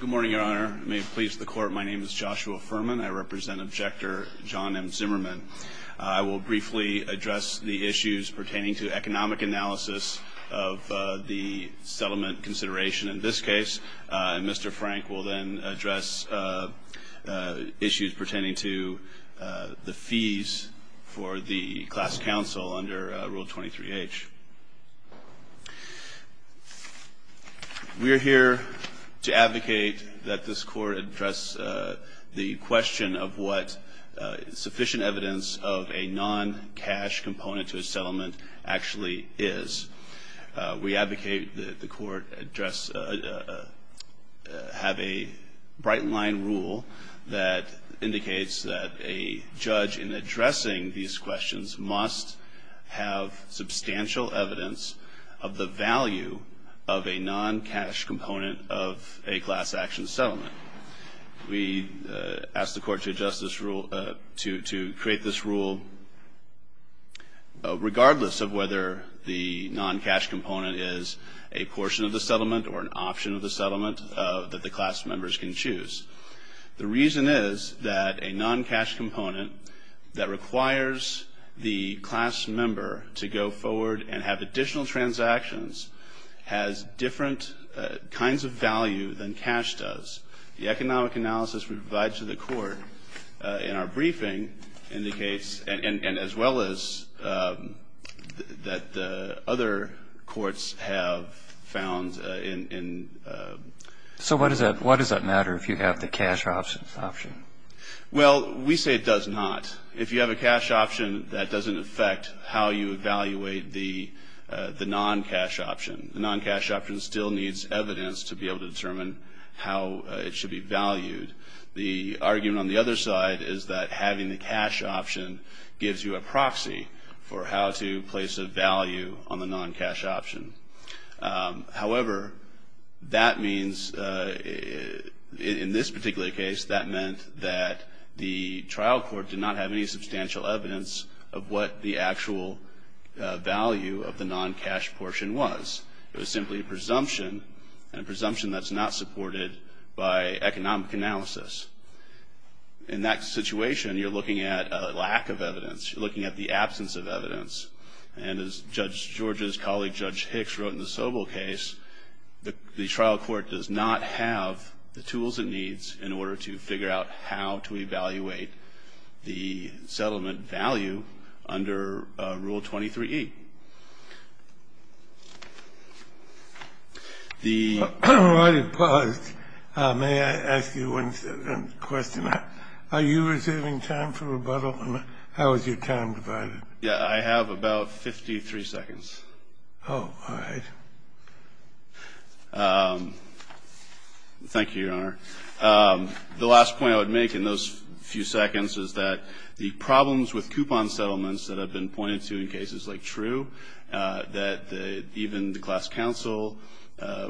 Good morning, Your Honor. May it please the Court, my name is Joshua Furman. I represent Objector John M. Zimmerman. I will briefly address the issues pertaining to economic analysis of the settlement consideration in this case. Mr. Frank will then address issues pertaining to the fees for the class counsel under Rule 23H. We are here to advocate that this Court address the question of what sufficient evidence of a non-cash component to a settlement actually is. We advocate that the Court address, have a bright line rule that indicates that a judge in addressing these questions must have substantial evidence of the value of a non-cash component of a class action settlement. We ask the Court to create this rule regardless of whether the non-cash component is a portion of the settlement or an option of the settlement that the class members can choose. The reason is that a non-cash component that requires the class member to go forward and have additional transactions has different kinds of value than cash does. The economic analysis we provide to the Court in our briefing indicates, and as well as that other courts have found in... So why does that matter if you have the cash option? Well, we say it does not. If you have a cash option, that doesn't affect how you evaluate the non-cash option. The non-cash option still needs evidence to be able to determine how it should be valued. The argument on the other side is that having the cash option gives you a proxy for how to place a value on the non-cash option. However, that means in this particular case, that meant that the trial court did not have any substantial evidence of what the actual value of the non-cash portion was. It was simply a presumption and a presumption that's not supported by economic analysis. In that situation, you're looking at a lack of evidence. You're looking at the absence of evidence. And as Judge George's colleague, Judge Hicks, wrote in the Sobel case, the trial court does not have the tools it needs in order to figure out how to evaluate the settlement value under Rule 23E. The… All right. We're paused. May I ask you one question? Are you receiving time for rebuttal? And how is your time divided? Yeah, I have about 53 seconds. Oh, all right. Thank you, Your Honor. The last point I would make in those few seconds is that the problems with coupon settlements that have been pointed to in cases like True, that even the class counsel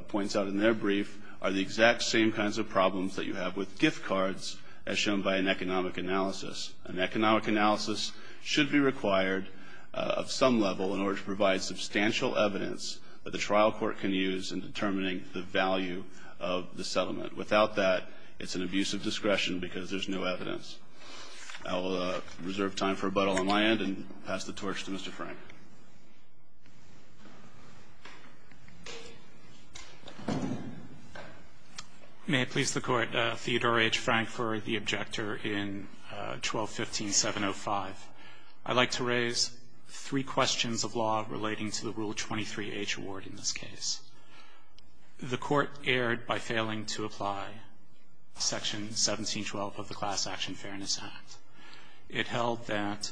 points out in their brief, are the exact same kinds of problems that you have with gift cards as shown by an economic analysis. An economic analysis should be required of some level in order to provide substantial evidence that the trial court can use in determining the value of the settlement. Without that, it's an abuse of discretion because there's no evidence. I'll reserve time for rebuttal on my end and pass the torch to Mr. Frank. May it please the Court, Theodore H. Frank for the objector in 1215.705. I'd like to raise three questions of law relating to the Rule 23H award in this case. The Court erred by failing to apply Section 1712 of the Class Action Fairness Act. It held that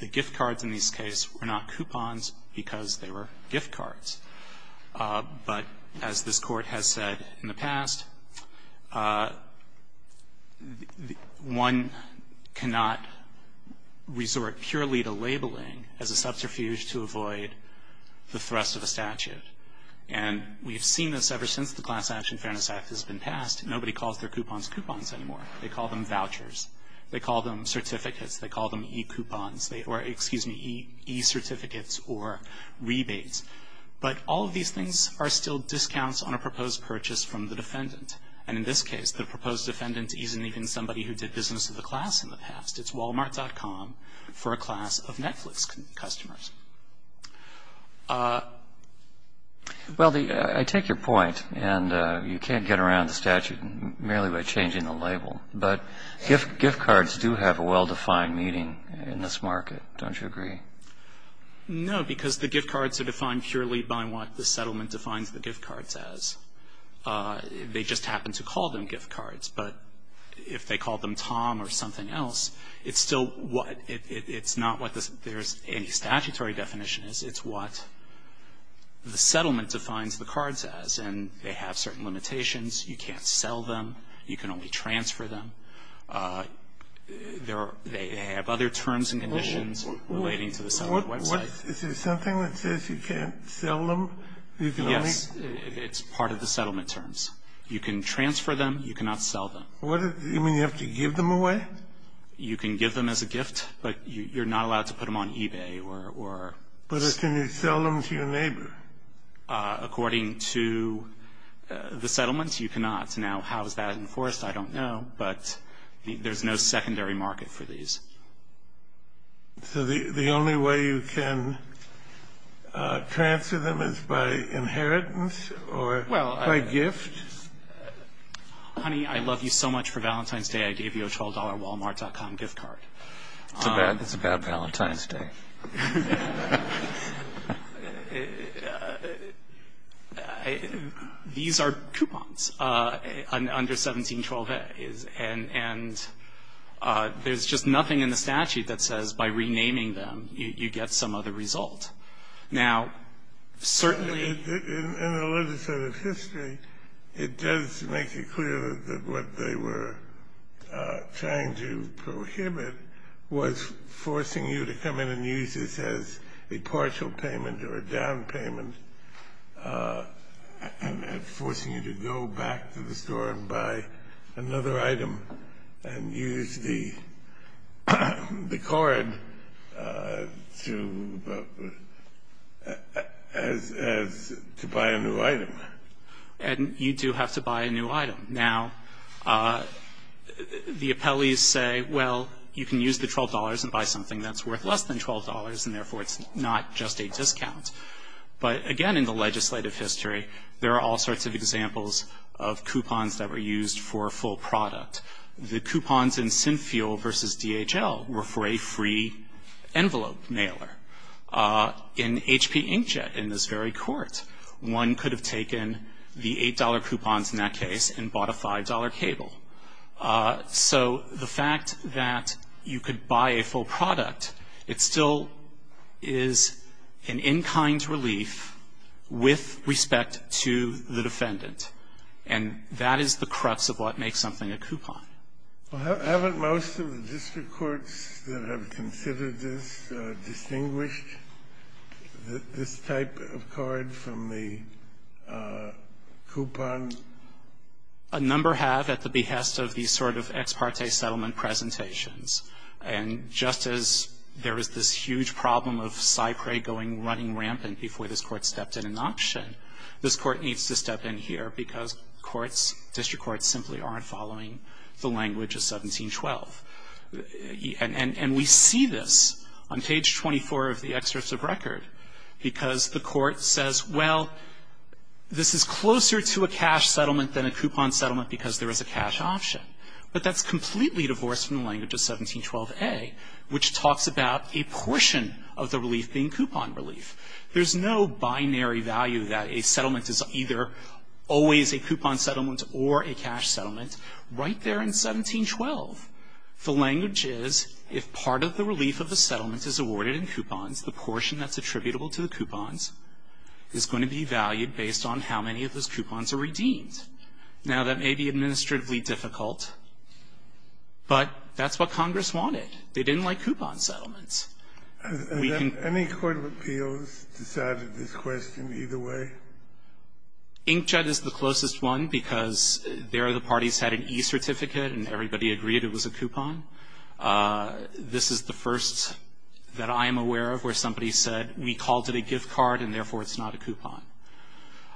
the gift cards in this case were not coupons because they were gift cards. But as this Court has said in the past, one cannot resort purely to labeling as a subterfuge to avoid the thrust of a statute. And we've seen this ever since the Class Action Fairness Act has been passed. Nobody calls their coupons coupons anymore. They call them vouchers. They call them certificates. They call them e-coupons or, excuse me, e-certificates or rebates. But all of these things are still discounts on a proposed purchase from the defendant. And in this case, the proposed defendant isn't even somebody who did business with the class in the past. It's Walmart.com for a class of Netflix customers. Well, I take your point. And you can't get around the statute merely by changing the label. But gift cards do have a well-defined meaning in this market, don't you agree? No, because the gift cards are defined purely by what the settlement defines the gift It's still what it's not what there's any statutory definition is. It's what the settlement defines the cards as. And they have certain limitations. You can't sell them. You can only transfer them. They have other terms and conditions relating to the settlement website. Is there something that says you can't sell them? Yes. It's part of the settlement terms. You can transfer them. You cannot sell them. What? You mean you have to give them away? You can give them as a gift, but you're not allowed to put them on eBay or But can you sell them to your neighbor? According to the settlement, you cannot. Now, how is that enforced? I don't know. But there's no secondary market for these. So the only way you can transfer them is by inheritance or by gift? Honey, I love you so much. For Valentine's Day, I gave you a $12 Walmart.com gift card. It's a bad Valentine's Day. These are coupons under 1712a. And there's just nothing in the statute that says by renaming them, you get some other result. Now, certainly in the legislative history, it does make it clear that what they were trying to prohibit was forcing you to come in and use this as a partial payment or a down payment and forcing you to go back to the store and buy another item and use the card to buy a new item. And you do have to buy a new item. Now, the appellees say, well, you can use the $12 and buy something that's worth less than $12, and therefore it's not just a discount. But again, in the legislative history, there are all sorts of examples of coupons that were used for a full product. The coupons in Sinfuel versus DHL were for a free envelope mailer. In HP Inkjet in this very court, one could have taken the $8 coupons in that case and bought a $5 cable. So the fact that you could buy a full product, it still is an in-kind relief with respect to the defendant, and that is the crux of what makes something a coupon. Well, haven't most of the district courts that have considered this distinguished this type of card from the coupon? A number have at the behest of these sort of ex parte settlement presentations. And just as there was this huge problem of Cypre going running rampant before this court stepped in an option, this court needs to step in here because courts, district courts simply aren't following the language of 1712. And we see this on page 24 of the excerpt of record because the court says, well, this is closer to a cash settlement than a coupon settlement because there is a cash option, but that's completely divorced from the language of 1712A, which talks about a portion of the relief being coupon relief. There's no binary value that a settlement is either always a coupon settlement or a cash settlement. Right there in 1712, the language is if part of the relief of the settlement is going to be valued based on how many of those coupons are redeemed. Now, that may be administratively difficult, but that's what Congress wanted. They didn't like coupon settlements. Any court of appeals decided this question either way? Inkjet is the closest one because there the parties had an E certificate and everybody agreed it was a coupon. This is the first that I am aware of where somebody said we called it a gift card and therefore it's not a coupon.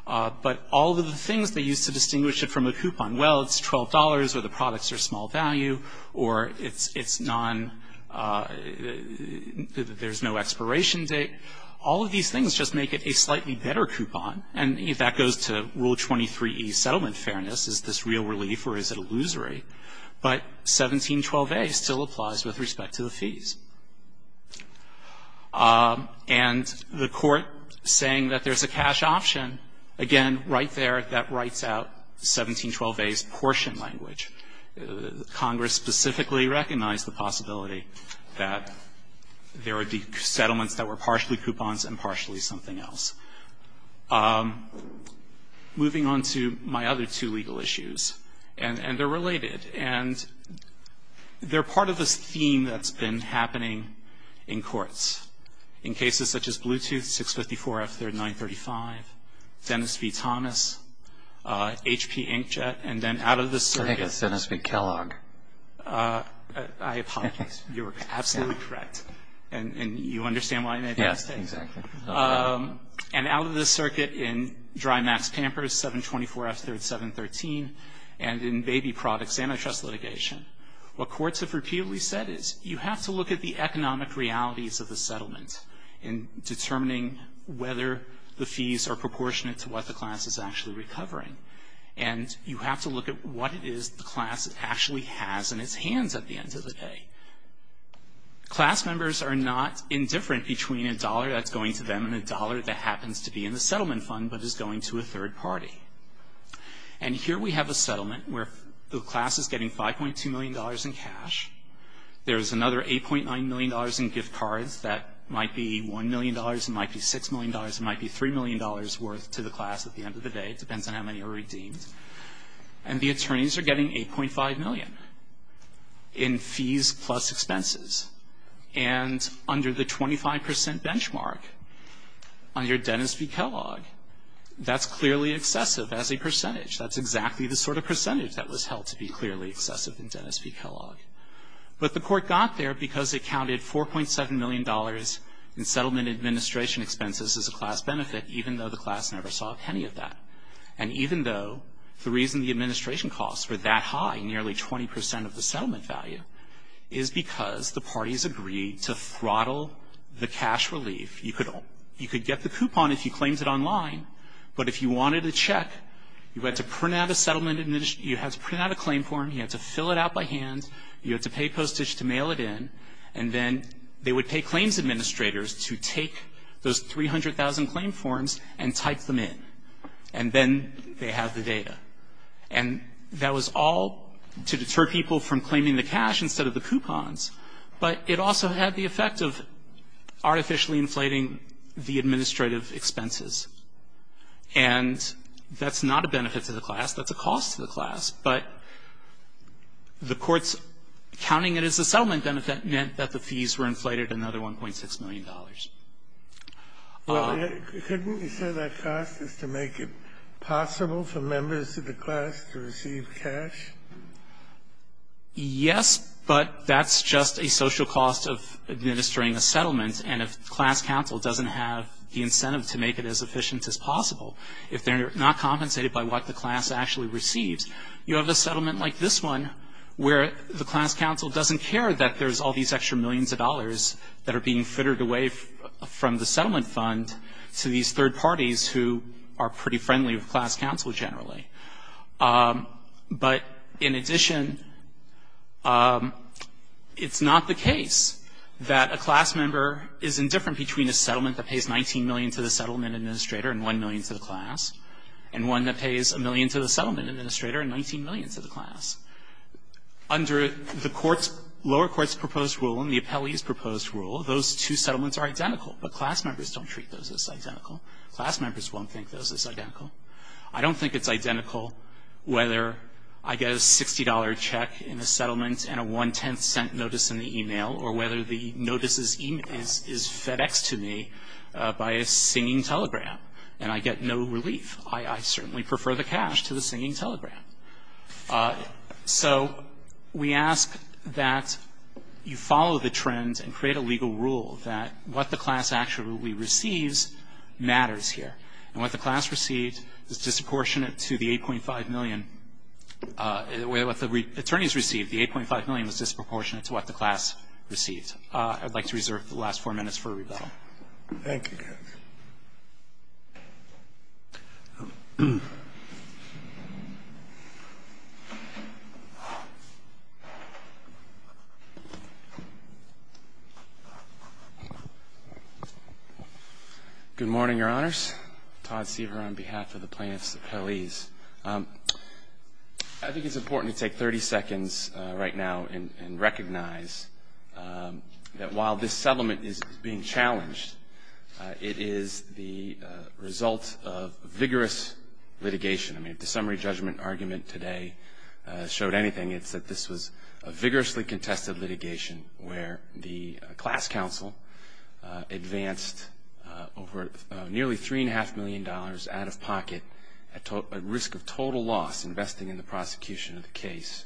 But all of the things they used to distinguish it from a coupon, well, it's $12 or the products are small value or it's non, there's no expiration date. All of these things just make it a slightly better coupon and if that goes to Rule 23E settlement fairness, is this real relief or is it illusory? And the court saying that there's a cash option, again, right there that writes out 1712a's portion language. Congress specifically recognized the possibility that there are settlements that were partially coupons and partially something else. Moving on to my other two legal issues, and they're related. And they're part of this theme that's been happening in courts. In cases such as Bluetooth, 654F3935, Dennis v. Thomas, HP Inkjet, and then out of the circuit- I think it's Dennis v. Kellogg. I apologize. You're absolutely correct. And you understand why I made that statement? Yes, exactly. And out of the circuit in Dry Max Pampers, 724F3713, and in baby products, antitrust litigation, what courts have repeatedly said is, you have to look at the economic realities of the settlement in determining whether the fees are proportionate to what the class is actually recovering. And you have to look at what it is the class actually has in its hands at the end of the day. Class members are not indifferent between a dollar that's going to them and a dollar that happens to be in the settlement fund but is going to a third party. And here we have a settlement where the class is getting $5.2 million in cash. There's another $8.9 million in gift cards that might be $1 million, it might be $6 million, it might be $3 million worth to the class at the end of the day. It depends on how many are redeemed. And the attorneys are getting $8.5 million in fees plus expenses. And under the 25% benchmark, under Dennis v. Kellogg, that's clearly excessive as a percentage. That's exactly the sort of percentage that was held to be clearly excessive in Dennis v. Kellogg. But the court got there because it counted $4.7 million in settlement administration expenses as a class benefit even though the class never saw any of that. And even though the reason the administration costs were that high, nearly 20% of the settlement value, is because the parties agreed to throttle the cash relief. You could get the coupon if you claimed it online. But if you wanted a check, you had to print out a claim form, you had to fill it out by hand, you had to pay postage to mail it in, and then they would pay claims administrators to take those 300,000 claim forms and type them in. And then they have the data. And that was all to deter people from claiming the cash instead of the coupons. But it also had the effect of artificially inflating the administrative expenses. And that's not a benefit to the class. That's a cost to the class. But the court's counting it as a settlement benefit meant that the fees were inflated another $1.6 million. Well, couldn't you say that cost is to make it possible for members of the class to receive cash? Yes, but that's just a social cost of administering a settlement. And if the class council doesn't have the incentive to make it as efficient as possible, if they're not compensated by what the class actually receives, you have a settlement like this one where the class council doesn't care that there's all these extra millions of dollars that are being fitted away from the settlement fund to these third parties who are pretty friendly with class council generally. But in addition, it's not the case that a class member is indifferent between a settlement that pays $19 million to the settlement administrator and $1 million to the class and one that pays $1 million to the settlement administrator and $19 million to the class. Under the lower court's proposed rule and the appellee's proposed rule, those two settlements are identical, but class members don't treat those as identical. Class members won't think those as identical. I don't think it's identical whether I get a $60 check in a settlement and a one-tenth cent notice in the e-mail or whether the notice is FedExed to me by a singing telegram and I get no relief. I certainly prefer the cash to the singing telegram. So we ask that you follow the trends and create a legal rule that what the class actually receives matters here. And what the class received is disproportionate to the $8.5 million. What the attorneys received, the $8.5 million, was disproportionate to what the class received. I'd like to reserve the last four minutes for rebuttal. Thank you, Judge. Good morning, Your Honors. Todd Seaver on behalf of the plaintiffs' appellees. I think it's important to take 30 seconds right now and recognize that while this settlement is being challenged, it is the result of vigorous litigation. I mean, if the summary judgment argument today showed anything, it's that this was a vigorously contested litigation where the class counsel advanced over nearly $3.5 million out of pocket at risk of total loss investing in the prosecution of the case.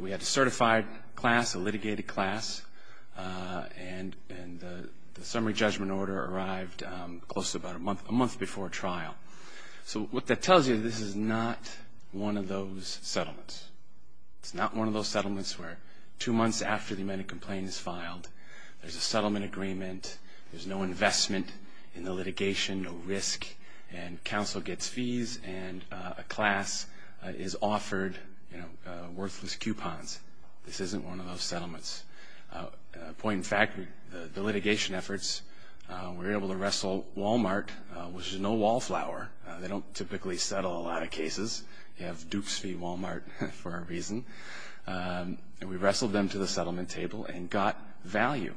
We had a certified class, a litigated class, and the summary judgment order arrived close to about a month before trial. So what that tells you is this is not one of those settlements. It's not one of those settlements where two months after the amended complaint is filed, there's a settlement agreement, there's no investment in the litigation, no risk, and counsel gets fees and a class is offered worthless coupons. This isn't one of those settlements. Point in fact, the litigation efforts, we were able to wrestle Wal-Mart, which is no wallflower. They don't typically settle a lot of cases. You have dupes fee Wal-Mart for a reason. And we wrestled them to the settlement table and got value.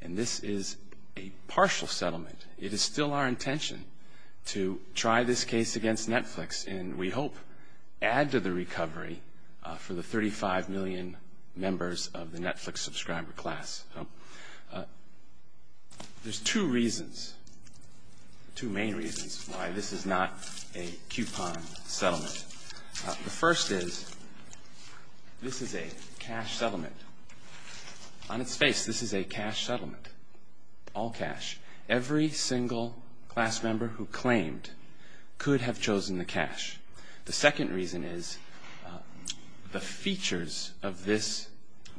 And this is a partial settlement. It is still our intention to try this case against Netflix and we hope add to the recovery for the 35 million members of the Netflix subscriber class. There's two reasons, two main reasons, why this is not a coupon settlement. The first is this is a cash settlement. On its face, this is a cash settlement, all cash. Every single class member who claimed could have chosen the cash. The second reason is the features of this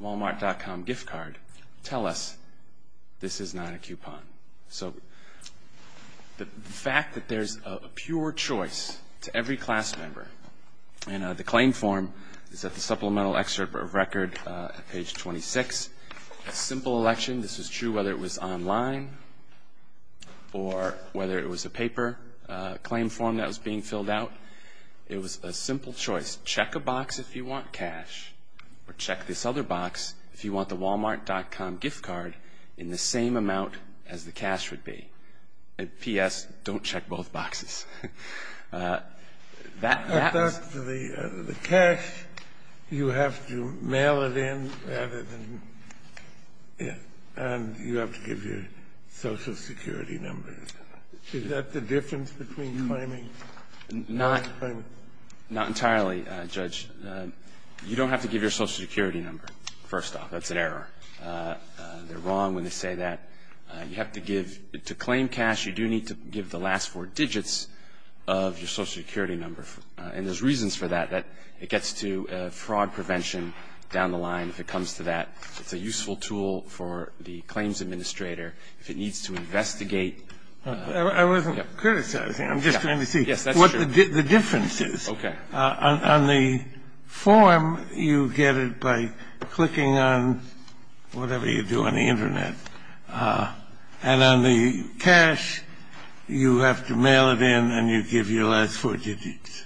walmart.com gift card tell us this is not a coupon. So the fact that there's a pure choice to every class member, and the claim form is at the supplemental excerpt of record at page 26. This is a simple election. This is true whether it was online or whether it was a paper claim form that was being filled out. It was a simple choice. Check a box if you want cash or check this other box if you want the walmart.com gift card in the same amount as the cash would be. P.S., don't check both boxes. That happens. The cash, you have to mail it in and you have to give your social security numbers. Is that the difference between claiming and not claiming? Not entirely, Judge. You don't have to give your social security number, first off. That's an error. They're wrong when they say that. To claim cash, you do need to give the last four digits of your social security number. And there's reasons for that. It gets to fraud prevention down the line if it comes to that. It's a useful tool for the claims administrator if it needs to investigate. I wasn't criticizing. I'm just trying to see what the difference is. Okay. On the form, you get it by clicking on whatever you do on the Internet. And on the cash, you have to mail it in and you give your last four digits.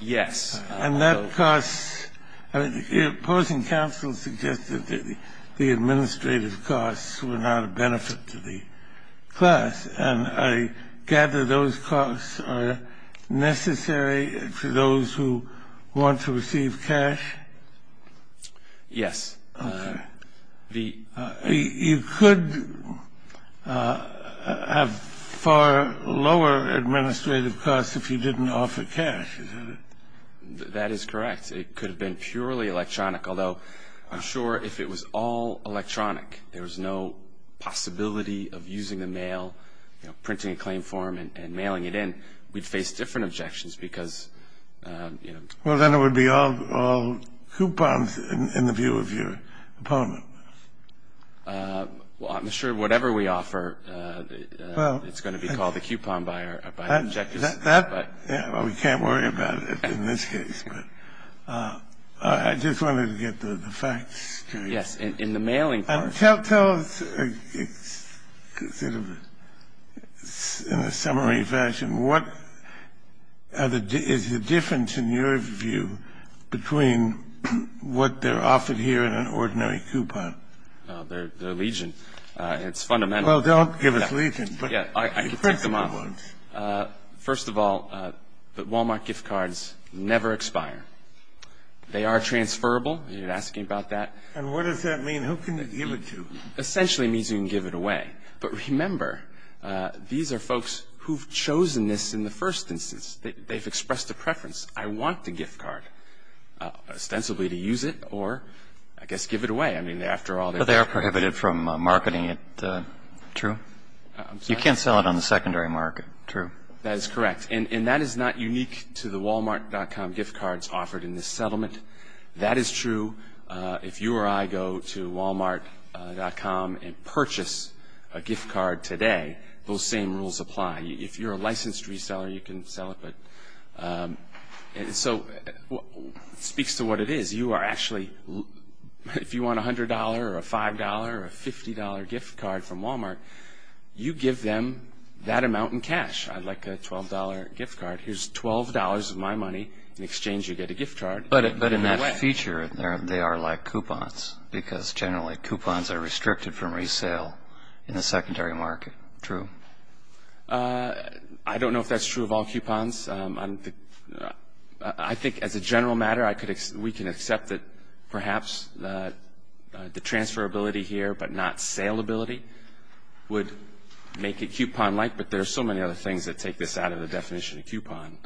Yes. And that costs the opposing counsel suggested that the administrative costs were not a benefit to the class. And I gather those costs are necessary to those who want to receive cash? Yes. Okay. You could have far lower administrative costs if you didn't offer cash, isn't it? That is correct. It could have been purely electronic, although I'm sure if it was all electronic, there was no possibility of using the mail, you know, printing a claim form and mailing it in. We'd face different objections because, you know. Well, then it would be all coupons in the view of your opponent. Well, I'm sure whatever we offer, it's going to be called a coupon by the objectors. That we can't worry about in this case. But I just wanted to get the facts. Yes. In the mailing part. Tell us in a summary fashion, what is the difference in your view between what they're offered here and an ordinary coupon? They're legion. It's fundamental. Well, don't give us legion, but the principle ones. First of all, the Walmart gift cards never expire. They are transferable. You're asking about that. And what does that mean? Who can you give it to? Essentially, it means you can give it away. But remember, these are folks who've chosen this in the first instance. They've expressed a preference. I want the gift card ostensibly to use it or, I guess, give it away. I mean, after all, they are prohibited from marketing it. True. You can't sell it on the secondary market. True. That is correct. And that is not unique to the Walmart.com gift cards offered in this settlement. That is true. If you or I go to Walmart.com and purchase a gift card today, those same rules apply. If you're a licensed reseller, you can sell it. So it speaks to what it is. You are actually, if you want a $100 or a $5 or a $50 gift card from Walmart, you give them that amount in cash. I'd like a $12 gift card. Here's $12 of my money. In exchange, you get a gift card. But in that feature, they are like coupons because generally coupons are restricted from resale in the secondary market. True. I don't know if that's true of all coupons. I think as a general matter, we can accept that perhaps the transferability here but not saleability would make it coupon-like, but there are so many other things that take this out of the definition of coupon.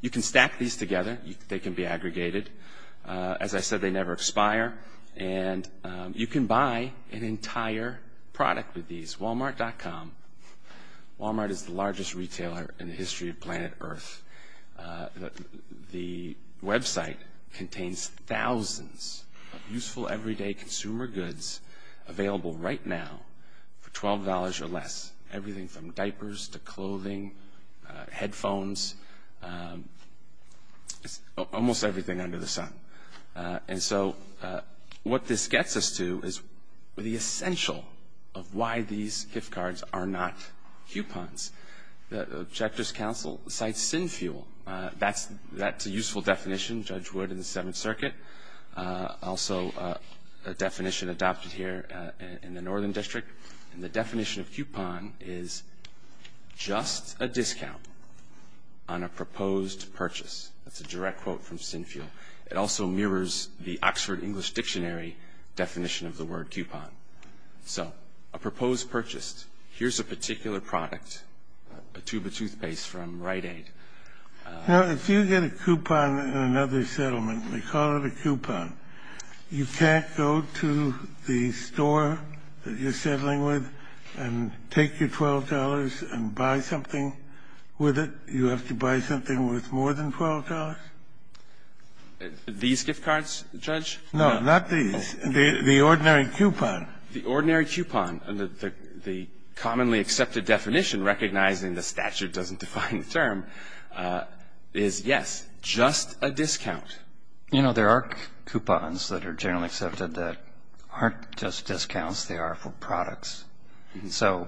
You can stack these together. They can be aggregated. As I said, they never expire. And you can buy an entire product with these, Walmart.com. Walmart is the largest retailer in the history of planet Earth. The website contains thousands of useful everyday consumer goods available right now for $12 or less, everything from diapers to clothing, headphones, almost everything under the sun. And so what this gets us to is the essential of why these gift cards are not coupons. The Objectives Council cites SinFuel. That's a useful definition, Judge Wood in the Seventh Circuit, also a definition adopted here in the Northern District. And the definition of coupon is just a discount on a proposed purchase. That's a direct quote from SinFuel. It also mirrors the Oxford English Dictionary definition of the word coupon. So a proposed purchase. Here's a particular product, a tube of toothpaste from Rite Aid. Now, if you get a coupon in another settlement, they call it a coupon. You can't go to the store that you're settling with and take your $12 and buy something with it. You have to buy something with more than $12. These gift cards, Judge? No, not these. The ordinary coupon. The ordinary coupon. The commonly accepted definition, recognizing the statute doesn't define the term, is, yes, just a discount. You know, there are coupons that are generally accepted that aren't just discounts. They are for products. So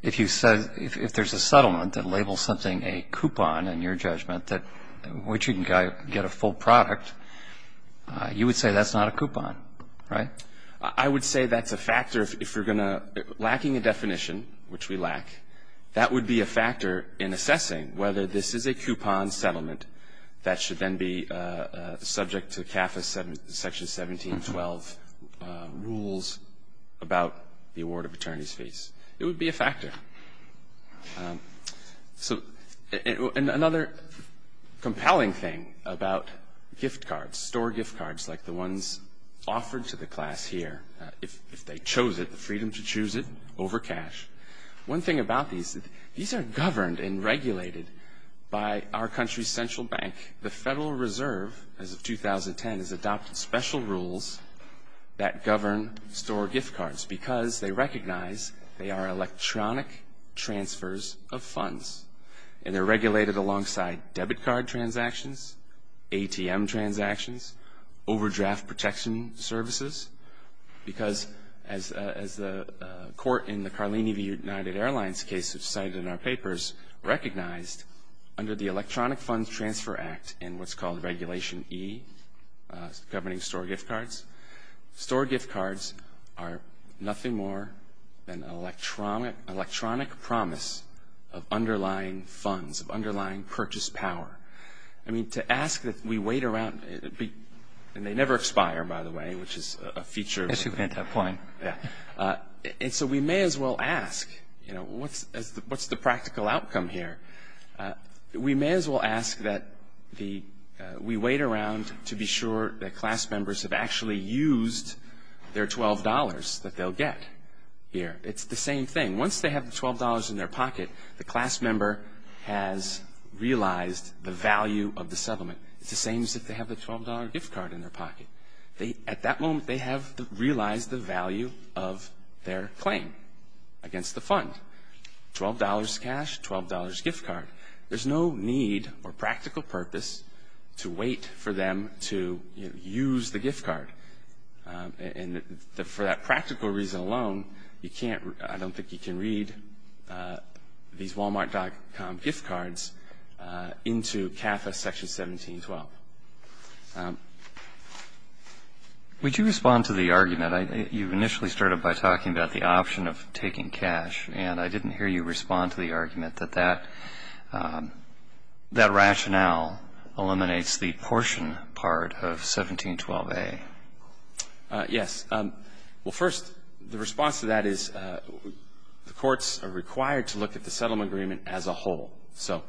if there's a settlement that labels something a coupon, in your judgment, which you can get a full product, you would say that's not a coupon, right? I would say that's a factor. If you're going to be lacking a definition, which we lack, that would be a factor in assessing whether this is a coupon settlement that should then be subject to CAFA Section 1712 rules about the award of attorney's fees. It would be a factor. So another compelling thing about gift cards, store gift cards like the ones offered to the class here, if they chose it, the freedom to choose it over cash. One thing about these, these are governed and regulated by our country's central bank. The Federal Reserve, as of 2010, has adopted special rules that govern store gift cards because they recognize they are electronic transfers of funds, and they're regulated alongside debit card transactions, ATM transactions, overdraft protection services, because as the court in the Carlini v. United Airlines case has cited in our papers, recognized under the Electronic Funds Transfer Act and what's called Regulation E, governing store gift cards, store gift cards are nothing more than electronic promise of underlying funds, of underlying purchase power. I mean, to ask that we wait around, and they never expire, by the way, which is a feature. And so we may as well ask, you know, what's the practical outcome here? We may as well ask that we wait around to be sure that class members have actually used their $12 that they'll get here. It's the same thing. Once they have the $12 in their pocket, the class member has realized the value of the settlement. It's the same as if they have the $12 gift card in their pocket. At that moment, they have realized the value of their claim against the fund, $12 cash, $12 gift card. There's no need or practical purpose to wait for them to use the gift card. And for that practical reason alone, I don't think you can read these walmart.com gift cards into CAFA Section 1712. Would you respond to the argument? You initially started by talking about the option of taking cash, and I didn't hear you respond to the argument that that rationale eliminates the portion part of 1712A. Yes. Well, first, the response to that is the courts are required to look at the settlement agreement as a whole. So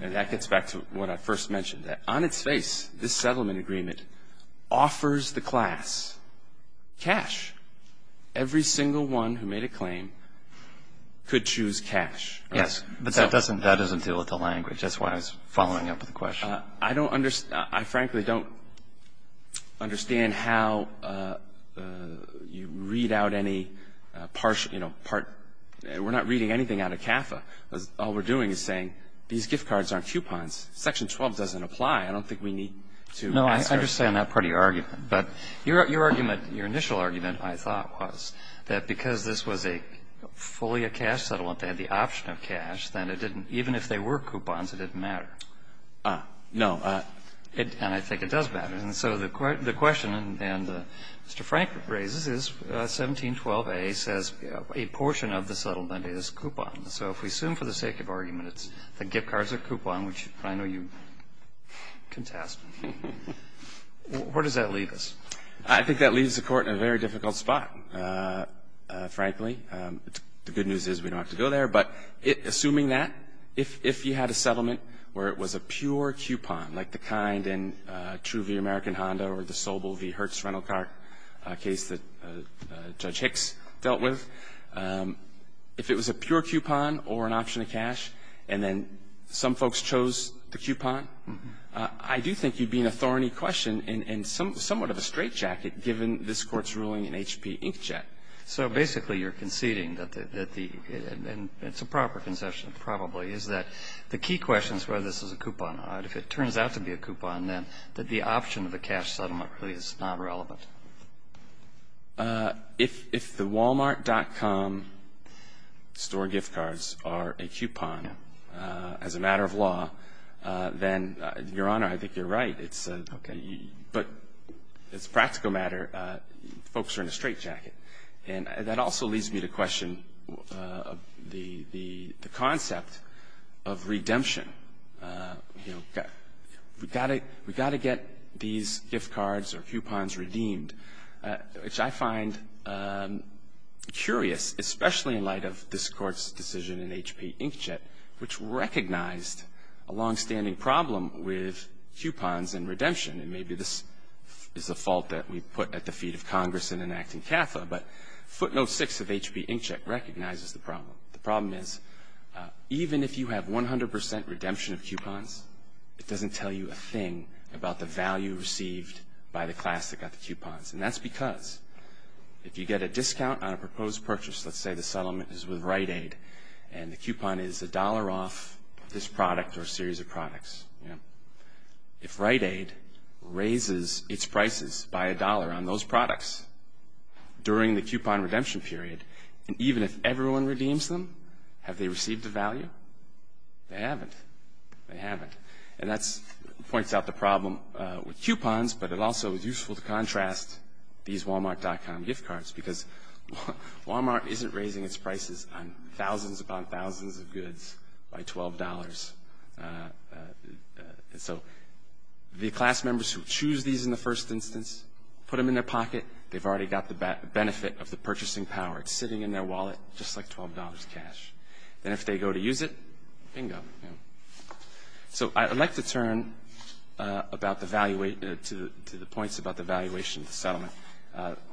that gets back to what I first mentioned, that on its face, this settlement agreement offers the class cash. Every single one who made a claim could choose cash. Yes. But that doesn't deal with the language. That's why I was following up with the question. I don't understand. I frankly don't understand how you read out any partial, you know, part. We're not reading anything out of CAFA. All we're doing is saying these gift cards aren't coupons. Section 12 doesn't apply. I don't think we need to ask ourselves. No, I understand that part of your argument. But your argument, your initial argument, I thought, was that because this was a fully a cash settlement, they had the option of cash, then it didn't, even if they were coupons, it didn't matter. No. And I think it does matter. And so the question Mr. Frank raises is 1712A says a portion of the settlement is coupon. So if we assume for the sake of argument it's the gift cards are coupon, which I know you contest, where does that leave us? I think that leaves the Court in a very difficult spot, frankly. The good news is we don't have to go there. But assuming that, if you had a settlement where it was a pure coupon, like the kind in True v. American Honda or the Sobel v. Hertz rental car case that Judge Hicks dealt with, if it was a pure coupon or an option of cash and then some folks chose the coupon, I do think you'd be in a thorny question and somewhat of a straitjacket given this Court's ruling in H.P. Inkjet. So basically you're conceding that the, and it's a proper conception probably, is that the key question is whether this is a coupon or not. If it turns out to be a coupon, then the option of a cash settlement really is not relevant. If the Walmart.com store gift cards are a coupon as a matter of law, then, Your Honor, I think you're right. But as a practical matter, folks are in a straitjacket. And that also leads me to question the concept of redemption. You know, we've got to get these gift cards or coupons redeemed, which I find curious, especially in light of this Court's decision in H.P. Inkjet, which recognized a longstanding problem with coupons and redemption. And maybe this is a fault that we put at the feet of Congress in enacting CAFA, but footnote 6 of H.P. Inkjet recognizes the problem. The problem is, even if you have 100% redemption of coupons, it doesn't tell you a thing about the value received by the class that got the coupons. And that's because if you get a discount on a proposed purchase, let's say the settlement is with Rite Aid, and the coupon is $1 off this product or a series of products, if Rite Aid raises its prices by $1 on those products during the coupon redemption period, and even if everyone redeems them, have they received a value? They haven't. And that points out the problem with coupons, but it also is useful to contrast these Walmart.com gift cards, because Walmart isn't raising its prices on thousands upon thousands of goods by $12. So the class members who choose these in the first instance, put them in their pocket, they've already got the benefit of the purchasing power. It's sitting in their wallet, just like $12 cash. Then if they go to use it, bingo. So I'd like to turn to the points about the valuation of the settlement.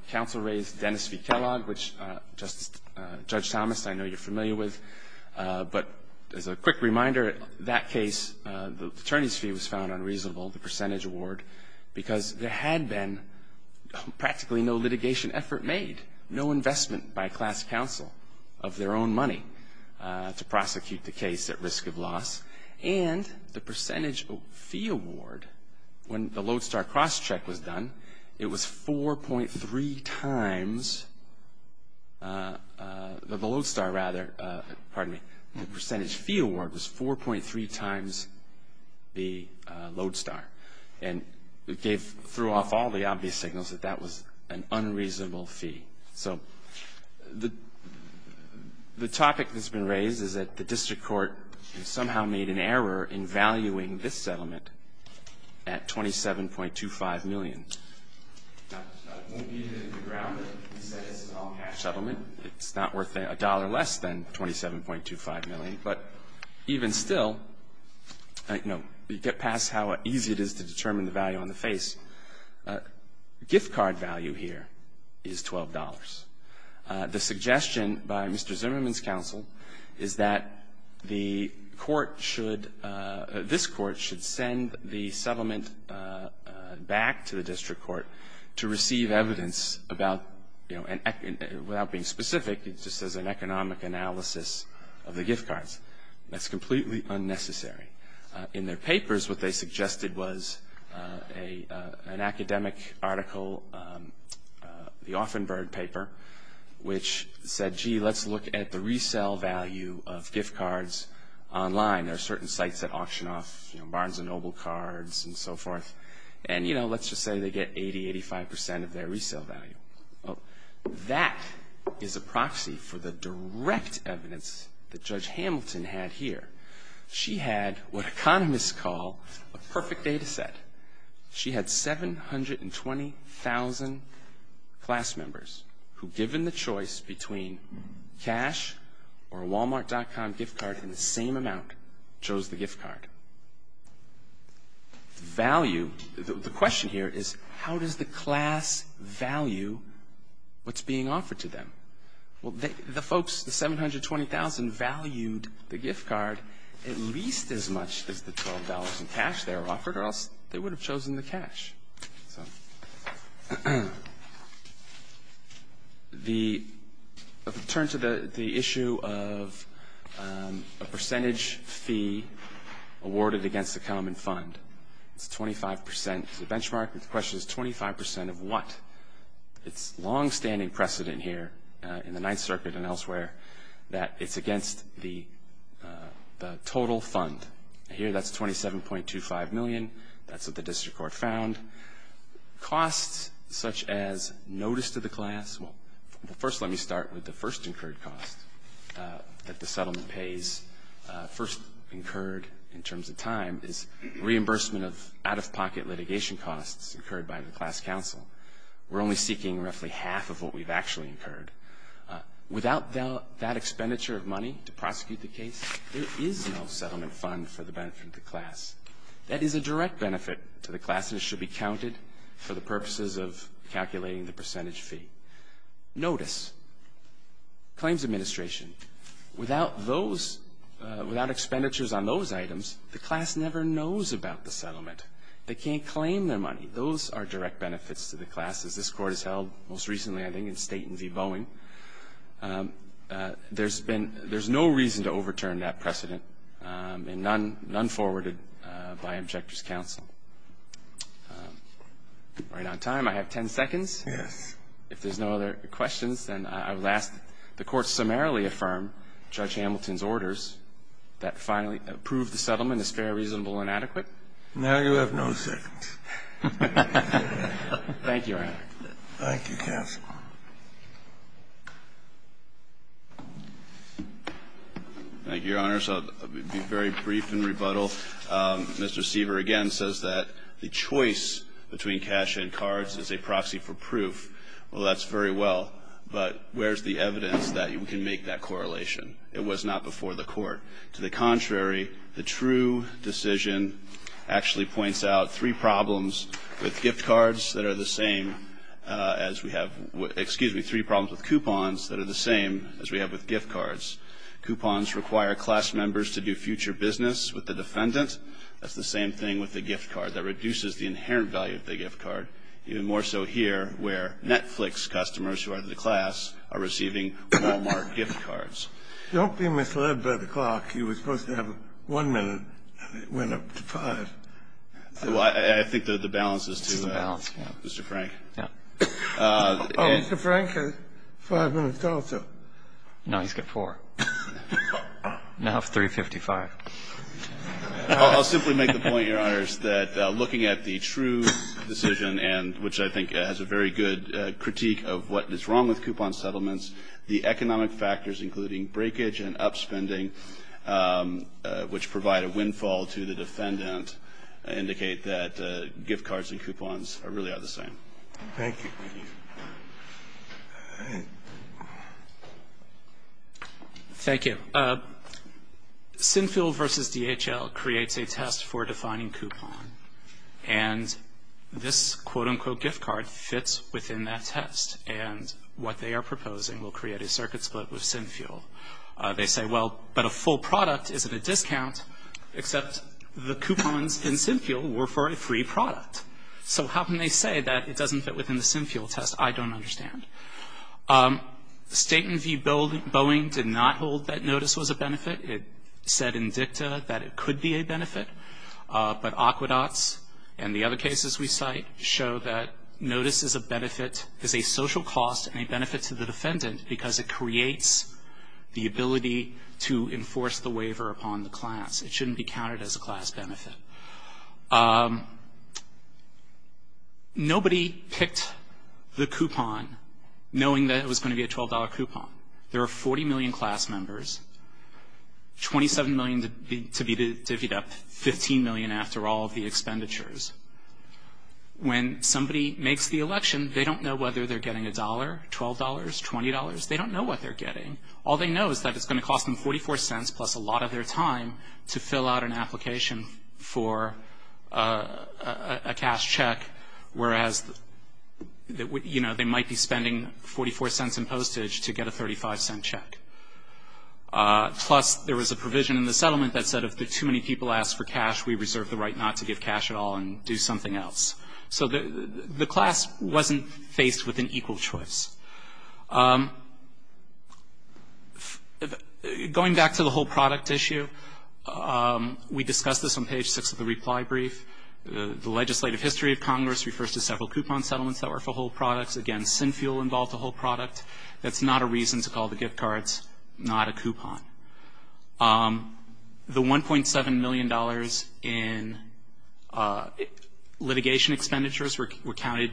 Counsel raised Dennis v. Kellogg, which Judge Thomas, I know you're familiar with, but as a quick reminder, that case, the attorney's fee was found unreasonable, the percentage award, because there had been practically no litigation effort made, no investment by class counsel of their own money to prosecute the case at risk of loss, and the percentage fee award, when the Lodestar cross-check was done, it was 4.3 times the Lodestar, the percentage fee award was 4.3 times the Lodestar. And it threw off all the obvious signals that that was an unreasonable fee. So the topic that's been raised is that the district court somehow made an error in valuing this settlement at $27.25 million. Now, it won't be that if you ground it and said this is an all-cash settlement, it's not worth a dollar less than $27.25 million, but even still, you get past how easy it is to determine the value on the face. Gift card value here is $12. The suggestion by Mr. Zimmerman's counsel is that the court should, this court should send the settlement back to the district court to receive evidence about, you know, without being specific, just as an economic analysis of the gift cards. That's completely unnecessary. In their papers, what they suggested was an academic article, the Offenberg paper, which said, gee, let's look at the resale value of gift cards online. There are certain sites that auction off Barnes & Noble cards and so forth. And, you know, let's just say they get 80, 85 percent of their resale value. That is a proxy for the direct evidence that Judge Hamilton had here. She had what economists call a perfect data set. She had 720,000 class members who, given the choice between cash or a Walmart.com gift card in the same amount, chose the gift card. Value, the question here is how does the class value what's being offered to them? Well, the folks, the 720,000 valued the gift card at least as much as the $12 in cash they were offered or else they would have chosen the cash. The turn to the issue of a percentage fee awarded against the common fund. It's 25 percent. It's a benchmark. The question is 25 percent of what? It's longstanding precedent here in the Ninth Circuit and elsewhere that it's against the total fund. Here that's 27.25 million. That's what the district court found. Costs such as notice to the class. Well, first let me start with the first incurred cost that the settlement pays, first incurred in terms of time is reimbursement of out-of-pocket litigation costs incurred by the class counsel. We're only seeking roughly half of what we've actually incurred. Without that expenditure of money to prosecute the case, there is no settlement fund for the benefit of the class. That is a direct benefit to the class and it should be counted for the purposes of calculating the percentage fee. Notice, claims administration, without expenditures on those items, the class never knows about the settlement. They can't claim their money. Those are direct benefits to the class, as this Court has held most recently, I think, in Staten v. Boeing. There's been no reason to overturn that precedent and none forwarded by objector's counsel. Right on time. I have 10 seconds. Yes. If there's no other questions, then I will ask the Court summarily affirm Judge Hamilton's orders that finally approve the settlement as fair, reasonable, and adequate. Now you have no seconds. Thank you, Your Honor. Thank you, counsel. Thank you, Your Honors. I'll be very brief in rebuttal. Mr. Seaver again says that the choice between cash and cards is a proxy for proof. Well, that's very well, but where's the evidence that you can make that correlation? It was not before the Court. To the contrary, the true decision actually points out three problems with gift cards that are the same as we have as we have, excuse me, three problems with coupons that are the same as we have with gift cards. Coupons require class members to do future business with the defendant. That's the same thing with the gift card. That reduces the inherent value of the gift card, even more so here where Netflix customers who are in the class are receiving Walmart gift cards. Don't be misled by the clock. You were supposed to have 1 minute, and it went up to 5. I think the balance is to Mr. Frank. Mr. Frank has 5 minutes also. No, he's got 4. Now it's 3.55. I'll simply make the point, Your Honors, that looking at the true decision, and which I think has a very good critique of what is wrong with coupon settlements, the economic factors, including breakage and upspending, which provide a windfall to the defendant, indicate that gift cards and coupons really are the same. Thank you. Thank you. Sinfield v. DHL creates a test for defining coupon, and this quote-unquote gift card fits within that test, and what they are proposing will create a circuit split with Sinfield. They say, well, but a full product isn't a discount, except the coupons in Sinfield were for a free product. So how can they say that it doesn't fit within the Sinfield test? I don't understand. State v. Boeing did not hold that notice was a benefit. It said in dicta that it could be a benefit. But aqueducts and the other cases we cite show that notice is a benefit, is a social cost and a benefit to the defendant because it creates the ability to enforce the waiver upon the class. It shouldn't be counted as a class benefit. Nobody picked the coupon knowing that it was going to be a $12 coupon. There are 40 million class members, 27 million to be divvied up, 15 million after all of the expenditures. When somebody makes the election, they don't know whether they're getting $1, $12, $20. They don't know what they're getting. All they know is that it's going to cost them 44 cents plus a lot of their time to fill out an application for a cash check, whereas they might be spending 44 cents in postage to get a 35-cent check. Plus there was a provision in the settlement that said if too many people ask for cash, we reserve the right not to give cash at all and do something else. So the class wasn't faced with an equal choice. Going back to the whole product issue, we discussed this on page 6 of the reply brief. The legislative history of Congress refers to several coupon settlements that were for whole products. Again, Sinfuel involved a whole product. That's not a reason to call the gift cards not a coupon. The $1.7 million in litigation expenditures were counted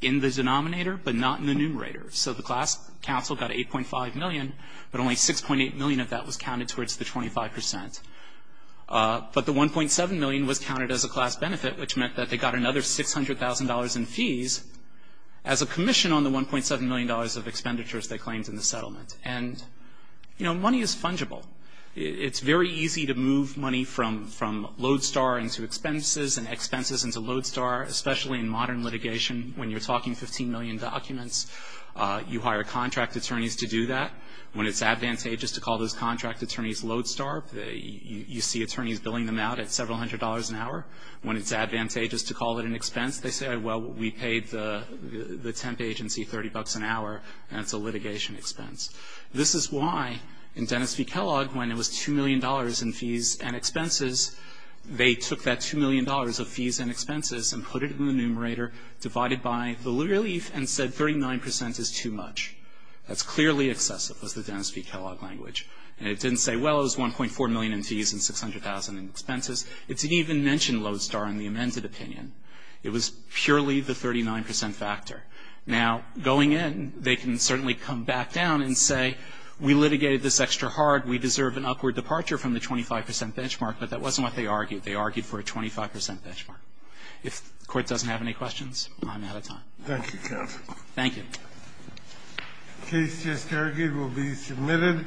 in the denominator, but not in the numerator. So the class council got $8.5 million, but only $6.8 million of that was counted towards the 25%. But the $1.7 million was counted as a class benefit, which meant that they got another $600,000 in fees. As a commission on the $1.7 million of expenditures they claimed in the settlement. Money is fungible. It's very easy to move money from Lodestar into expenses and expenses into Lodestar, especially in modern litigation when you're talking 15 million documents. You hire contract attorneys to do that. When it's advantageous to call those contract attorneys Lodestar, you see attorneys billing them out at several hundred dollars an hour. When it's advantageous to call it an expense, they say, well, we paid the temp agency $30 an hour, and it's a litigation expense. This is why in Dennis v. Kellogg, when it was $2 million in fees and expenses, they took that $2 million of fees and expenses and put it in the numerator, divided by the relief, and said 39% is too much. That's clearly excessive, was the Dennis v. Kellogg language. And it didn't say, well, it was $1.4 million in fees and $600,000 in expenses. It didn't even mention Lodestar in the amended opinion. It was purely the 39% factor. Now, going in, they can certainly come back down and say, we litigated this extra hard. We deserve an upward departure from the 25% benchmark. But that wasn't what they argued. They argued for a 25% benchmark. If the Court doesn't have any questions, I'm out of time. Thank you, counsel. Thank you. The case just argued will be submitted.